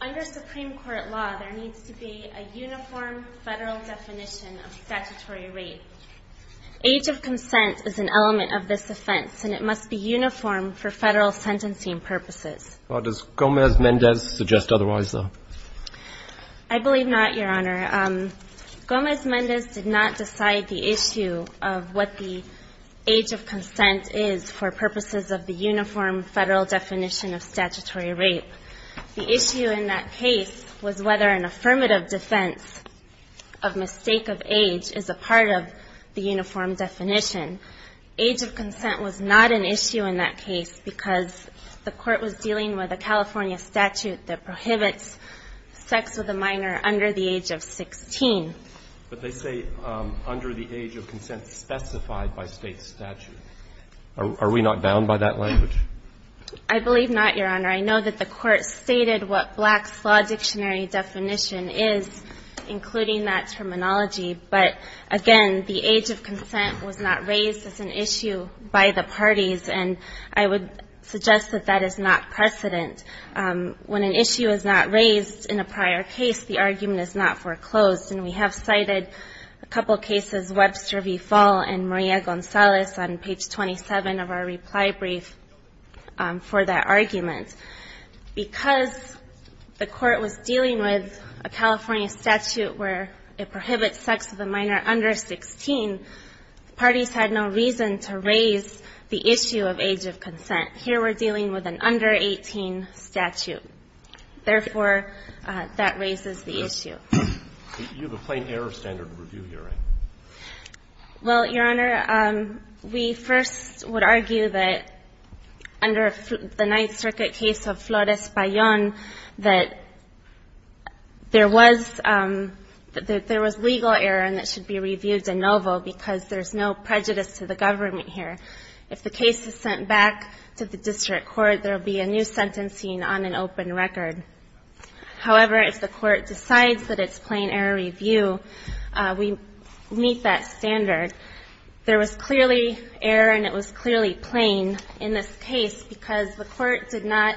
Under Supreme Court law, there needs to be a uniform federal definition of statutory rape. Age of consent is an element of this offense and it must be uniform for federal sentencing purposes. Gomez-Mendez did not decide the issue of what the age of consent is for purposes of the uniform federal definition of statutory rape. The issue in that case was whether an affirmative defense of mistake of age is a part of the uniform definition. Age of consent was not an issue in that case because the Court was dealing with a California statute that prohibits sex with a minor under the age of 16. But they say under the age of consent specified by State statute. Are we not bound by that language? I believe not, Your Honor. I know that the Court stated what Black's Law Dictionary definition is, including that terminology. But, again, the age of consent was not raised as an issue by the parties, and I would suggest that that is not precedent. When an issue is not raised in a prior case, the argument is not foreclosed. And we have cited a couple cases, Webster v. Fall and Maria Gonzalez, on page 27 of our reply brief for that argument. Because the Court was dealing with a California statute where it prohibits sex with a minor under 16, the parties had no reason to raise the issue of age of consent. Here we're dealing with an under 18 statute. Therefore, that raises the issue. You have a plain error standard of review here, right? Well, Your Honor, we first would argue that under the Ninth Circuit case of Flores Payon, that there was legal error and it should be reviewed de novo because there's no prejudice to the government here. If the case is sent back to the district court, there will be a new sentencing on an open record. However, if the Court decides that it's plain error review, we meet that standard. There was clearly error and it was clearly plain in this case because the Court did not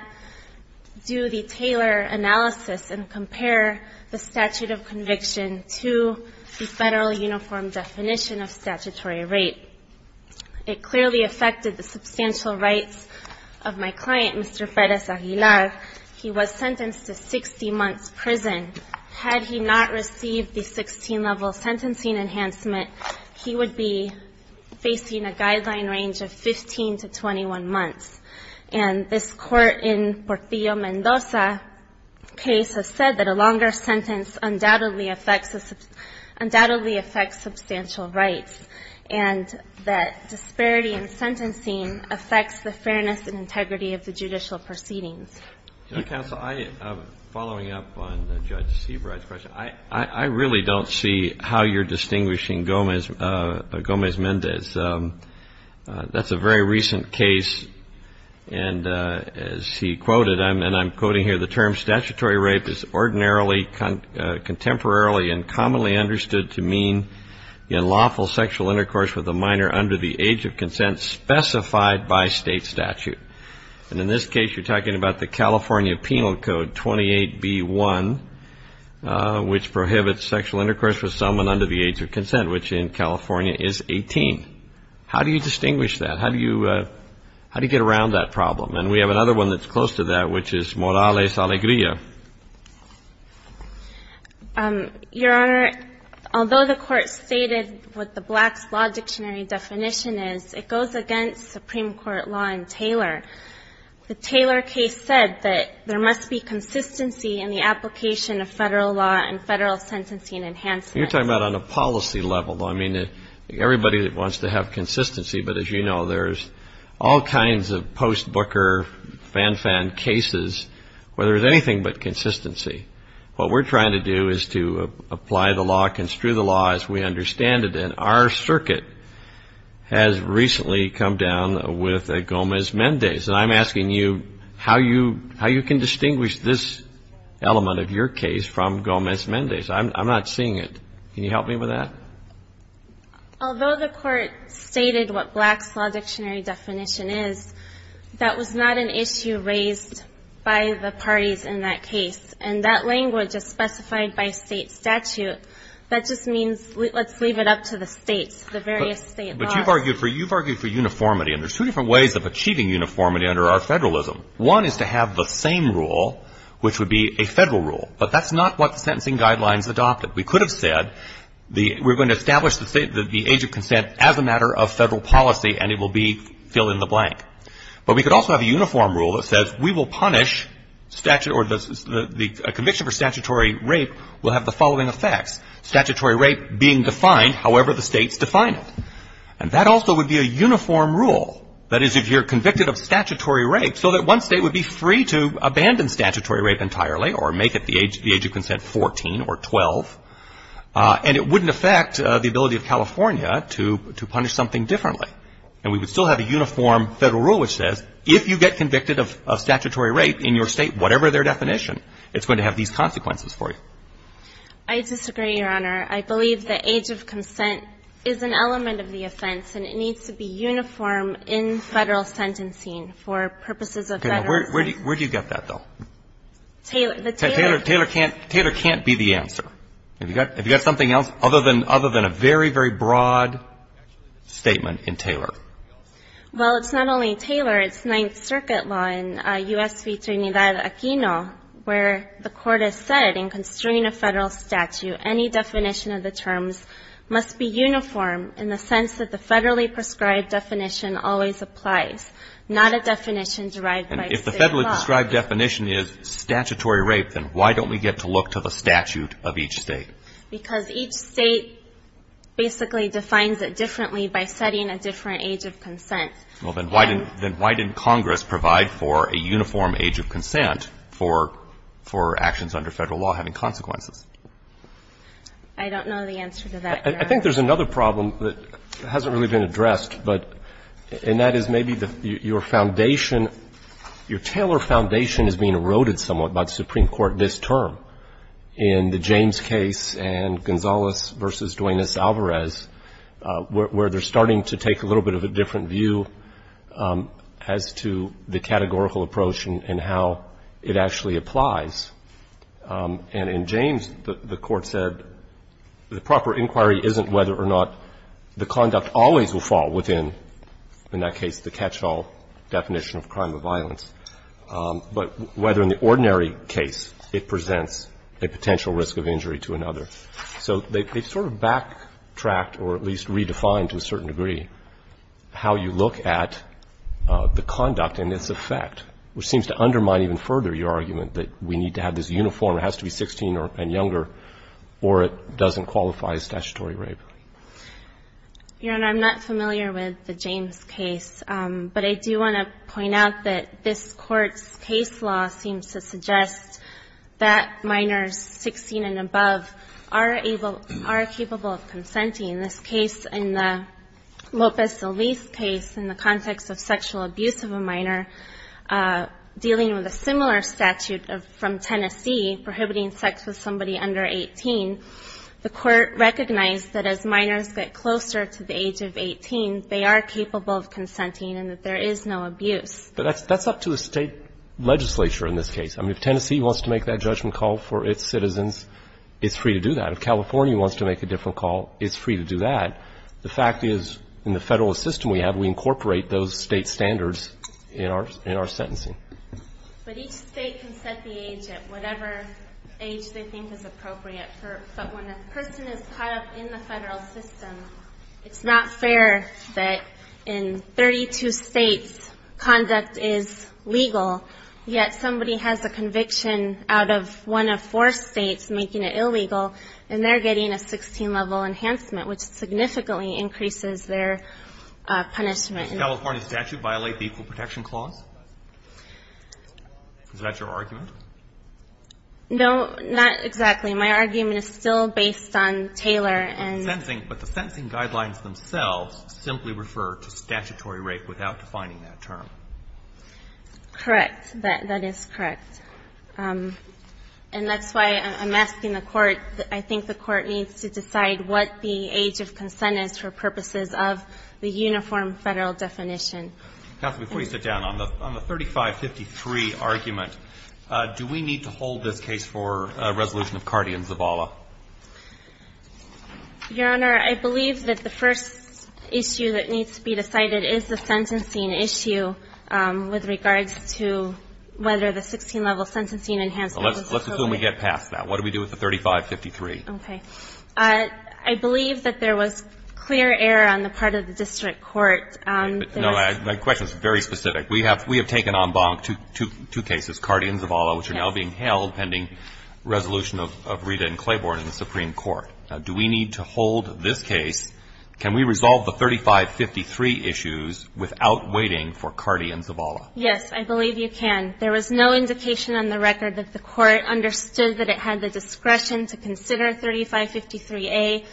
do the Taylor analysis and compare the statute of conviction to the federal uniform definition of statutory rape. It clearly affected the substantial rights of my client, Mr. Freitas Aguilar. He was sentenced to 60 months prison. Had he not received the 16-level sentencing enhancement, he would be facing a guideline range of 15 to 21 months. And this court in Portillo-Mendoza case has said that a longer sentence undoubtedly affects substantial rights and that disparity in sentencing affects the fairness and integrity of the judicial proceedings. Counsel, following up on Judge Seabright's question, I really don't see how you're distinguishing Gomez-Mendez. That's a very recent case, and as he quoted, and I'm quoting here, the term statutory rape is ordinarily, contemporarily, and commonly understood to mean lawful sexual intercourse with a minor under the age of consent specified by state statute. And in this case, you're talking about the California Penal Code 28B-1, which prohibits sexual intercourse with someone under the age of consent, which in California is 18. How do you distinguish that? How do you get around that problem? And we have another one that's close to that, which is Morales-Alegría. Your Honor, although the Court stated what the Black's Law Dictionary definition is, it goes against Supreme Court law in Taylor. The Taylor case said that there must be consistency in the application of federal law and federal sentencing enhancements. You're talking about on a policy level, though. I mean, everybody wants to have consistency, but as you know, there's all kinds of post-Booker fan-fan cases where there's anything but consistency. What we're trying to do is to apply the law, construe the law as we understand it, and our circuit has recently come down with a Gomez-Mendez. And I'm asking you how you can distinguish this element of your case from Gomez-Mendez. I'm not seeing it. Can you help me with that? Although the Court stated what Black's Law Dictionary definition is, that was not an issue raised by the parties in that case, and that language is specified by state statute. That just means let's leave it up to the states, the various state laws. But you've argued for uniformity, and there's two different ways of achieving uniformity under our federalism. One is to have the same rule, which would be a federal rule, but that's not what the sentencing guidelines adopted. We could have said we're going to establish the age of consent as a matter of federal policy, and it will be fill in the blank. But we could also have a uniform rule that says we will punish statute A conviction for statutory rape will have the following effects. Statutory rape being defined however the states define it. And that also would be a uniform rule. That is, if you're convicted of statutory rape, so that one state would be free to abandon statutory rape entirely or make it the age of consent 14 or 12, and it wouldn't affect the ability of California to punish something differently. And we would still have a uniform federal rule which says if you get convicted of statutory rape in your state, whatever their definition, it's going to have these consequences for you. I disagree, Your Honor. I believe the age of consent is an element of the offense, and it needs to be uniform in federal sentencing for purposes of federalism. Okay. Where do you get that, though? Taylor. Taylor can't be the answer. Have you got something else other than a very, very broad statement in Taylor? Well, it's not only Taylor. It's Ninth Circuit law in U.S. v. Trinidad Aquino, where the court has said in constraining a federal statute, any definition of the terms must be uniform in the sense that the federally prescribed definition always applies, not a definition derived by state law. And if the federally prescribed definition is statutory rape, then why don't we get to look to the statute of each state? Because each state basically defines it differently by setting a different age of consent. Well, then why didn't Congress provide for a uniform age of consent for actions under federal law having consequences? I don't know the answer to that, Your Honor. I think there's another problem that hasn't really been addressed, and that is maybe your foundation, your Taylor foundation is being eroded somewhat by the Supreme Court this term in the James case and Gonzales v. Duenas-Alvarez, where they're starting to take a little bit of a different view as to the categorical approach and how it actually applies. And in James, the court said the proper inquiry isn't whether or not the conduct always will fall within, in that case, the catch-all definition of crime of violence, but whether in the ordinary case it presents a potential risk of injury to another. So they sort of backtracked or at least redefined to a certain degree how you look at the conduct and its effect, which seems to undermine even further your argument that we need to have this uniform, it has to be 16 and younger, or it doesn't qualify as statutory rape. Your Honor, I'm not familiar with the James case, but I do want to point out that this Court's case law seems to suggest that minors 16 and above are able, are capable of consenting. In this case, in the Lopez-Eliz case, in the context of sexual abuse of a minor, dealing with a similar statute from Tennessee, prohibiting sex with somebody under 18, the Court recognized that as minors get closer to the age of 18, they are capable of consenting and that there is no abuse. But that's up to the State legislature in this case. I mean, if Tennessee wants to make that judgment call for its citizens, it's free to do that. If California wants to make a different call, it's free to do that. The fact is, in the Federalist system we have, we incorporate those State standards in our sentencing. But each State can set the age at whatever age they think is appropriate. But when a person is caught up in the Federalist system, it's not fair that in 32 States conduct is legal, yet somebody has a conviction out of one of four States making it illegal, and they're getting a 16-level enhancement, which significantly increases their punishment. Does the California statute violate the Equal Protection Clause? Is that your argument? No, not exactly. My argument is still based on Taylor and ---- But the sentencing guidelines themselves simply refer to statutory rape without defining that term. Correct. That is correct. And that's why I'm asking the Court. I think the Court needs to decide what the age of consent is for purposes of the uniform Federal definition. Counsel, before you sit down, on the 3553 argument, do we need to hold this case for a resolution of Cardi and Zabala? Your Honor, I believe that the first issue that needs to be decided is the sentencing issue with regards to whether the 16-level sentencing enhancement was appropriate. Let's assume we get past that. What do we do with the 3553? Okay. I believe that there was clear error on the part of the district court. No, my question is very specific. We have taken en banc two cases, Cardi and Zabala, which are now being held pending resolution of Rita and Claiborne in the Supreme Court. Do we need to hold this case? Can we resolve the 3553 issues without waiting for Cardi and Zabala? Yes, I believe you can. There was no indication on the record that the Court understood that it had the discretion to consider 3553A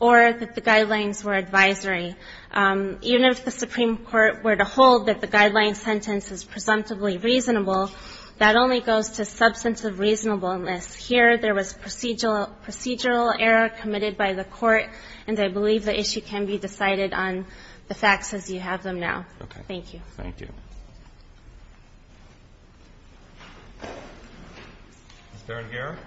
or that the guidelines were advisory. Even if the Supreme Court were to hold that the guideline sentence is presumptively reasonable, that only goes to substantive reasonableness. Here, there was procedural error committed by the Court, and I believe the issue can be decided on the facts as you have them now. Thank you. Thank you. Is there an error?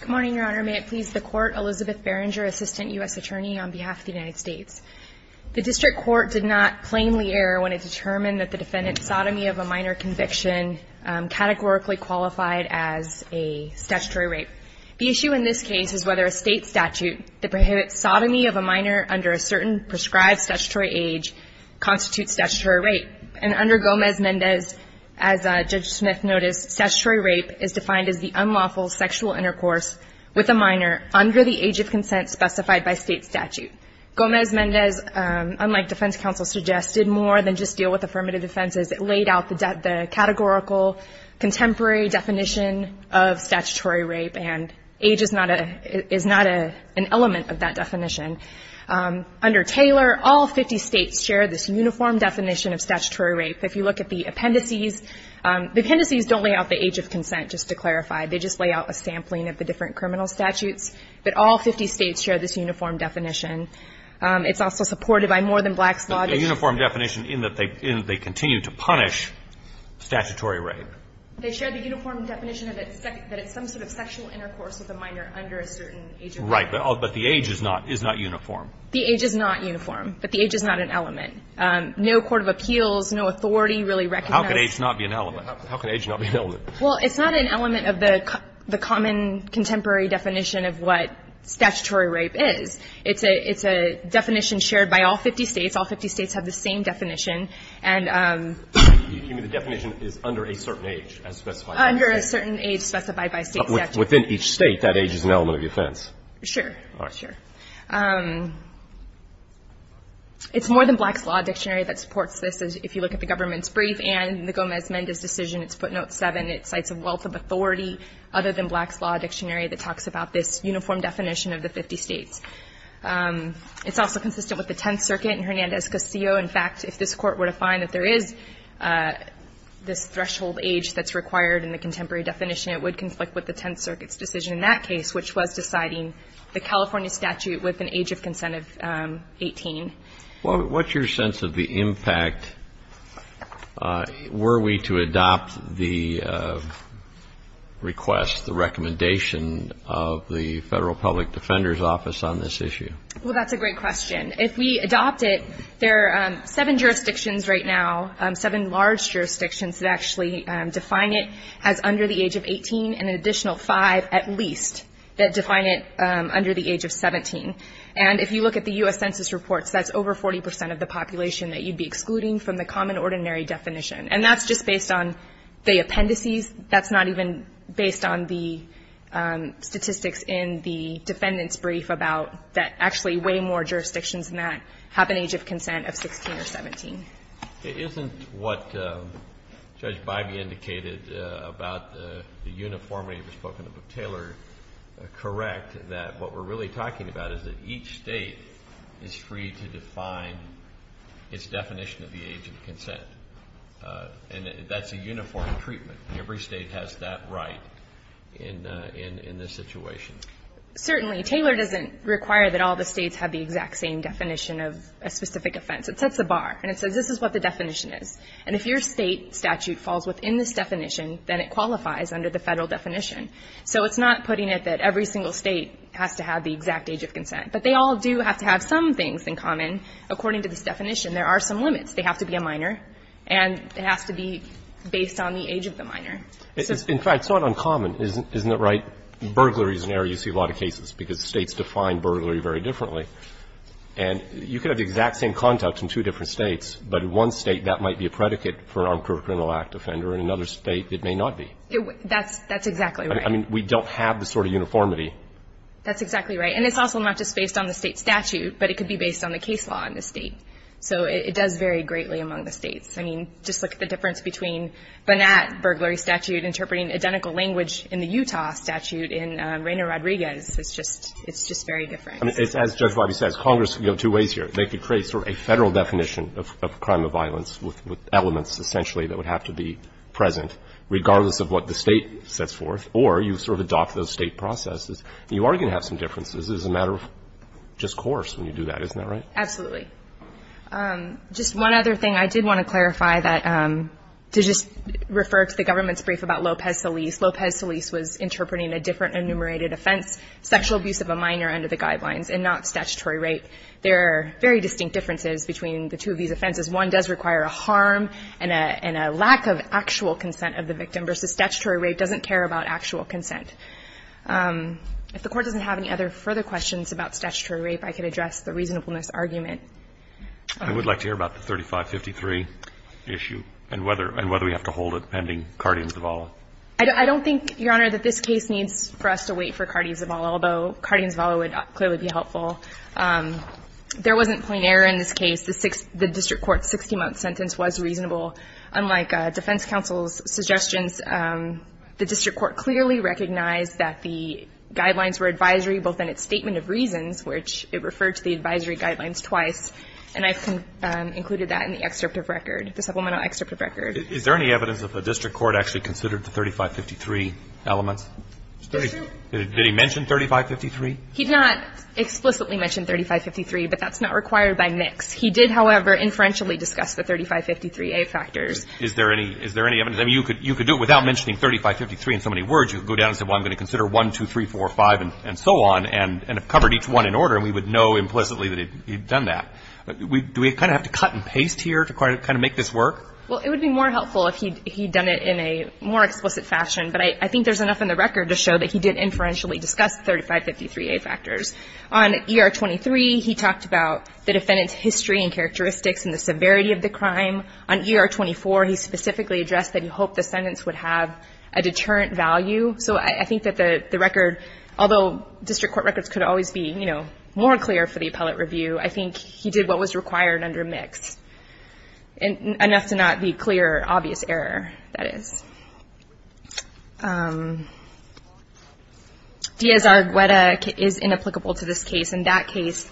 Good morning, Your Honor. May it please the Court, Elizabeth Berenger, Assistant U.S. Attorney on behalf of the United States. The district court did not plainly err when it determined that the defendant's sodomy of a minor conviction categorically qualified as a statutory rape. The issue in this case is whether a State statute that prohibits sodomy of a minor under a certain prescribed statutory age constitutes statutory rape. And under Gomez-Mendez, as Judge Smith noticed, statutory rape is defined as the sodomy of a minor under the age of consent specified by State statute. Gomez-Mendez, unlike defense counsel suggested, more than just deal with affirmative defenses, it laid out the categorical contemporary definition of statutory rape, and age is not an element of that definition. Under Taylor, all 50 States share this uniform definition of statutory rape. If you look at the appendices, the appendices don't lay out the age of consent, just to clarify. They just lay out a sampling of the different criminal statutes. But all 50 States share this uniform definition. It's also supported by more than Black's law. But the uniform definition in that they continue to punish statutory rape. They share the uniform definition that it's some sort of sexual intercourse with a minor under a certain age of consent. Right. But the age is not uniform. The age is not uniform. But the age is not an element. No court of appeals, no authority really recognizes. How can age not be an element? How can age not be an element? Well, it's not an element of the common contemporary definition of what statutory rape is. It's a definition shared by all 50 States. All 50 States have the same definition. And the definition is under a certain age as specified. Under a certain age specified by State statute. Within each State, that age is an element of defense. Sure. All right. It's more than Black's law dictionary that supports this. If you look at the government's brief and the Gomez-Mendez decision, it's footnote 7. It cites a wealth of authority other than Black's law dictionary that talks about this uniform definition of the 50 States. It's also consistent with the Tenth Circuit and Hernandez-Casillo. In fact, if this Court were to find that there is this threshold age that's required in the contemporary definition, it would conflict with the Tenth Circuit's decision in that case, which was deciding the California statute with an age of consent of 18. Well, what's your sense of the impact were we to adopt the request, the recommendation of the Federal Public Defender's Office on this issue? Well, that's a great question. If we adopt it, there are seven jurisdictions right now, seven large jurisdictions that actually define it as under the age of 18 and an additional five at least that define it under the age of 17. And if you look at the U.S. Census reports, that's over 40 percent of the population that you'd be excluding from the common ordinary definition. And that's just based on the appendices. That's not even based on the statistics in the defendant's brief about that actually way more jurisdictions than that have an age of consent of 16 or 17. Isn't what Judge Bybee indicated about the uniformity of his book and the book Taylor correct that what we're really talking about is that each State is free to define its definition of the age of consent? And that's a uniform treatment. Every State has that right in this situation. Certainly. Taylor doesn't require that all the States have the exact same definition of a specific offense. It sets a bar, and it says this is what the definition is. And if your State statute falls within this definition, then it qualifies under the Federal definition. So it's not putting it that every single State has to have the exact age of consent. But they all do have to have some things in common. According to this definition, there are some limits. They have to be a minor, and it has to be based on the age of the minor. In fact, it's not uncommon. Isn't it right? Burglaries and errors, you see a lot of cases, because States define burglary very differently. And you could have the exact same context in two different States, but in one State that might be a predicate for an armed criminal act offender, and in another State it may not be. That's exactly right. I mean, we don't have the sort of uniformity. That's exactly right. And it's also not just based on the State statute, but it could be based on the case law in the State. So it does vary greatly among the States. I mean, just look at the difference between Burnett burglary statute interpreting identical language in the Utah statute and Reyna Rodriguez. It's just very different. As Judge Wabi says, Congress can go two ways here. They could create sort of a Federal definition of a crime of violence with elements essentially that would have to be present, regardless of what the State sets forth, or you sort of adopt those State processes. And you are going to have some differences. It's a matter of discourse when you do that. Isn't that right? Absolutely. Just one other thing. I did want to clarify that, to just refer to the government's brief about Lopez-Solis. Lopez-Solis was interpreting a different enumerated offense, sexual abuse of a minor under the guidelines, and not statutory rape. There are very distinct differences between the two of these offenses. One does require a harm and a lack of actual consent of the victim, versus statutory rape doesn't care about actual consent. If the Court doesn't have any other further questions about statutory rape, I could address the reasonableness argument. I would like to hear about the 3553 issue and whether we have to hold it pending Cardi and Zavala. I don't think, Your Honor, that this case needs for us to wait for Cardi and Zavala, although Cardi and Zavala would clearly be helpful. There wasn't plain error in this case. The district court's 60-month sentence was reasonable. Unlike defense counsel's suggestions, the district court clearly recognized that the guidelines were advisory, both in its statement of reasons, which it referred to the advisory guidelines twice, and I've included that in the excerpt of record, the supplemental excerpt of record. Is there any evidence that the district court actually considered the 3553 elements? It's true. Did he mention 3553? He did not explicitly mention 3553, but that's not required by NICS. He did, however, inferentially discuss the 3553A factors. Is there any evidence? I mean, you could do it without mentioning 3553 in so many words. You could go down and say, well, I'm going to consider 1, 2, 3, 4, 5, and so on, and have covered each one in order, and we would know implicitly that he'd done that. Do we kind of have to cut and paste here to kind of make this work? Well, it would be more helpful if he'd done it in a more explicit fashion, but I think there's enough in the record to show that he did inferentially discuss 3553A factors. On ER 23, he talked about the defendant's history and characteristics and the severity of the crime. On ER 24, he specifically addressed that he hoped the sentence would have a deterrent value. So I think that the record, although district court records could always be, you know, more clear for the appellate review, I think he did what was required under NICS, enough to not be clear, obvious error, that is. Diaz-Argueda is inapplicable to this case. In that case,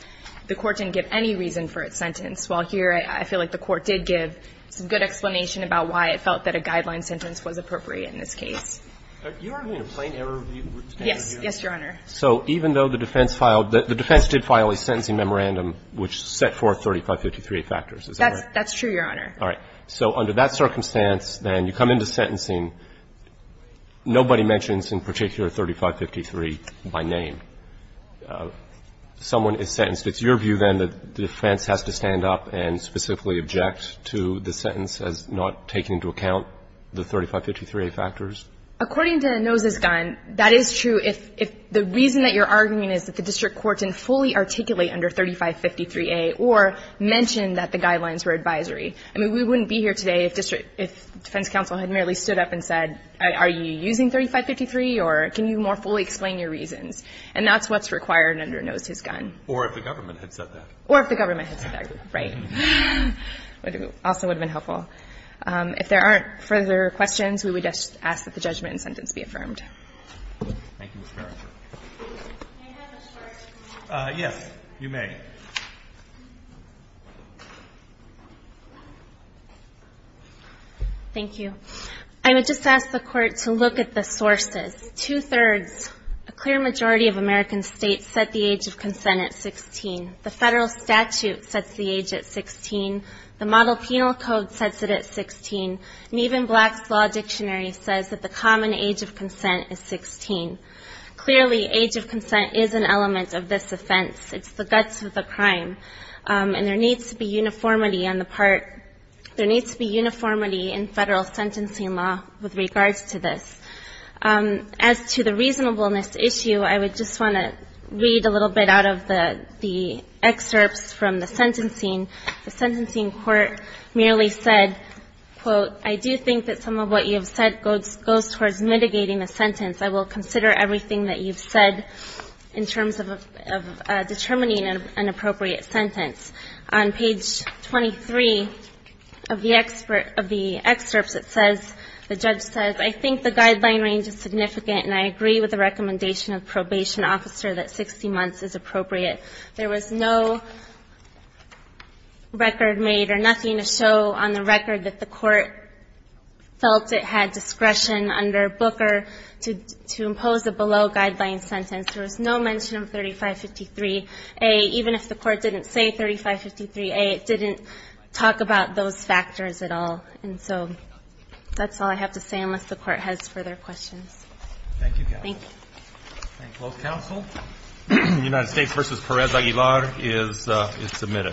the court didn't give any reason for its sentence, while here I feel like the court did give some good explanation about why it felt that a guideline sentence was appropriate in this case. Are you arguing a plain error review? Yes. Yes, Your Honor. So even though the defense filed the – the defense did file a sentencing memorandum which set forth 3553A factors, is that right? That's true, Your Honor. All right. So under that circumstance, then, you come into sentencing, nobody mentions in particular 3553 by name. Someone is sentenced. It's your view, then, that the defense has to stand up and specifically object to the sentence as not taking into account the 3553A factors? According to Enosis Gunn, that is true if the reason that you're arguing is that the district court didn't fully articulate under 3553A or mention that the guidelines were advisory. I mean, we wouldn't be here today if district – if defense counsel had merely stood up and said, are you using 3553 or can you more fully explain your reasons? And that's what's required under Enosis Gunn. Or if the government had said that. Or if the government had said that. Right. It also would have been helpful. If there aren't further questions, we would just ask that the judgment and sentence be affirmed. Thank you, Ms. Merrick. Can I have a short? Yes, you may. Ms. Merrick. Thank you. I would just ask the court to look at the sources. Two-thirds, a clear majority of American states set the age of consent at 16. The federal statute sets the age at 16. The model penal code sets it at 16. And even Black's Law Dictionary says that the common age of consent is 16. Clearly, age of consent is an element of this offense. It's the guts of the crime. And there needs to be uniformity on the part. There needs to be uniformity in federal sentencing law with regards to this. As to the reasonableness issue, I would just want to read a little bit out of the excerpts from the sentencing. The sentencing court merely said, quote, I do think that some of what you have said goes towards mitigating the sentence. I will consider everything that you've said in terms of determining an appropriate sentence. On page 23 of the excerpts, it says, the judge says, I think the guideline range is significant, and I agree with the recommendation of the probation officer that 60 months is appropriate. There was no record made or nothing to show on the record that the court felt it had discretion under Booker to impose a below-guideline sentence. There was no mention of 3553A. Even if the court didn't say 3553A, it didn't talk about those factors at all. And so that's all I have to say unless the court has further questions. Thank you. Thank you. Thank you. Thank you. Thank you. Thank you.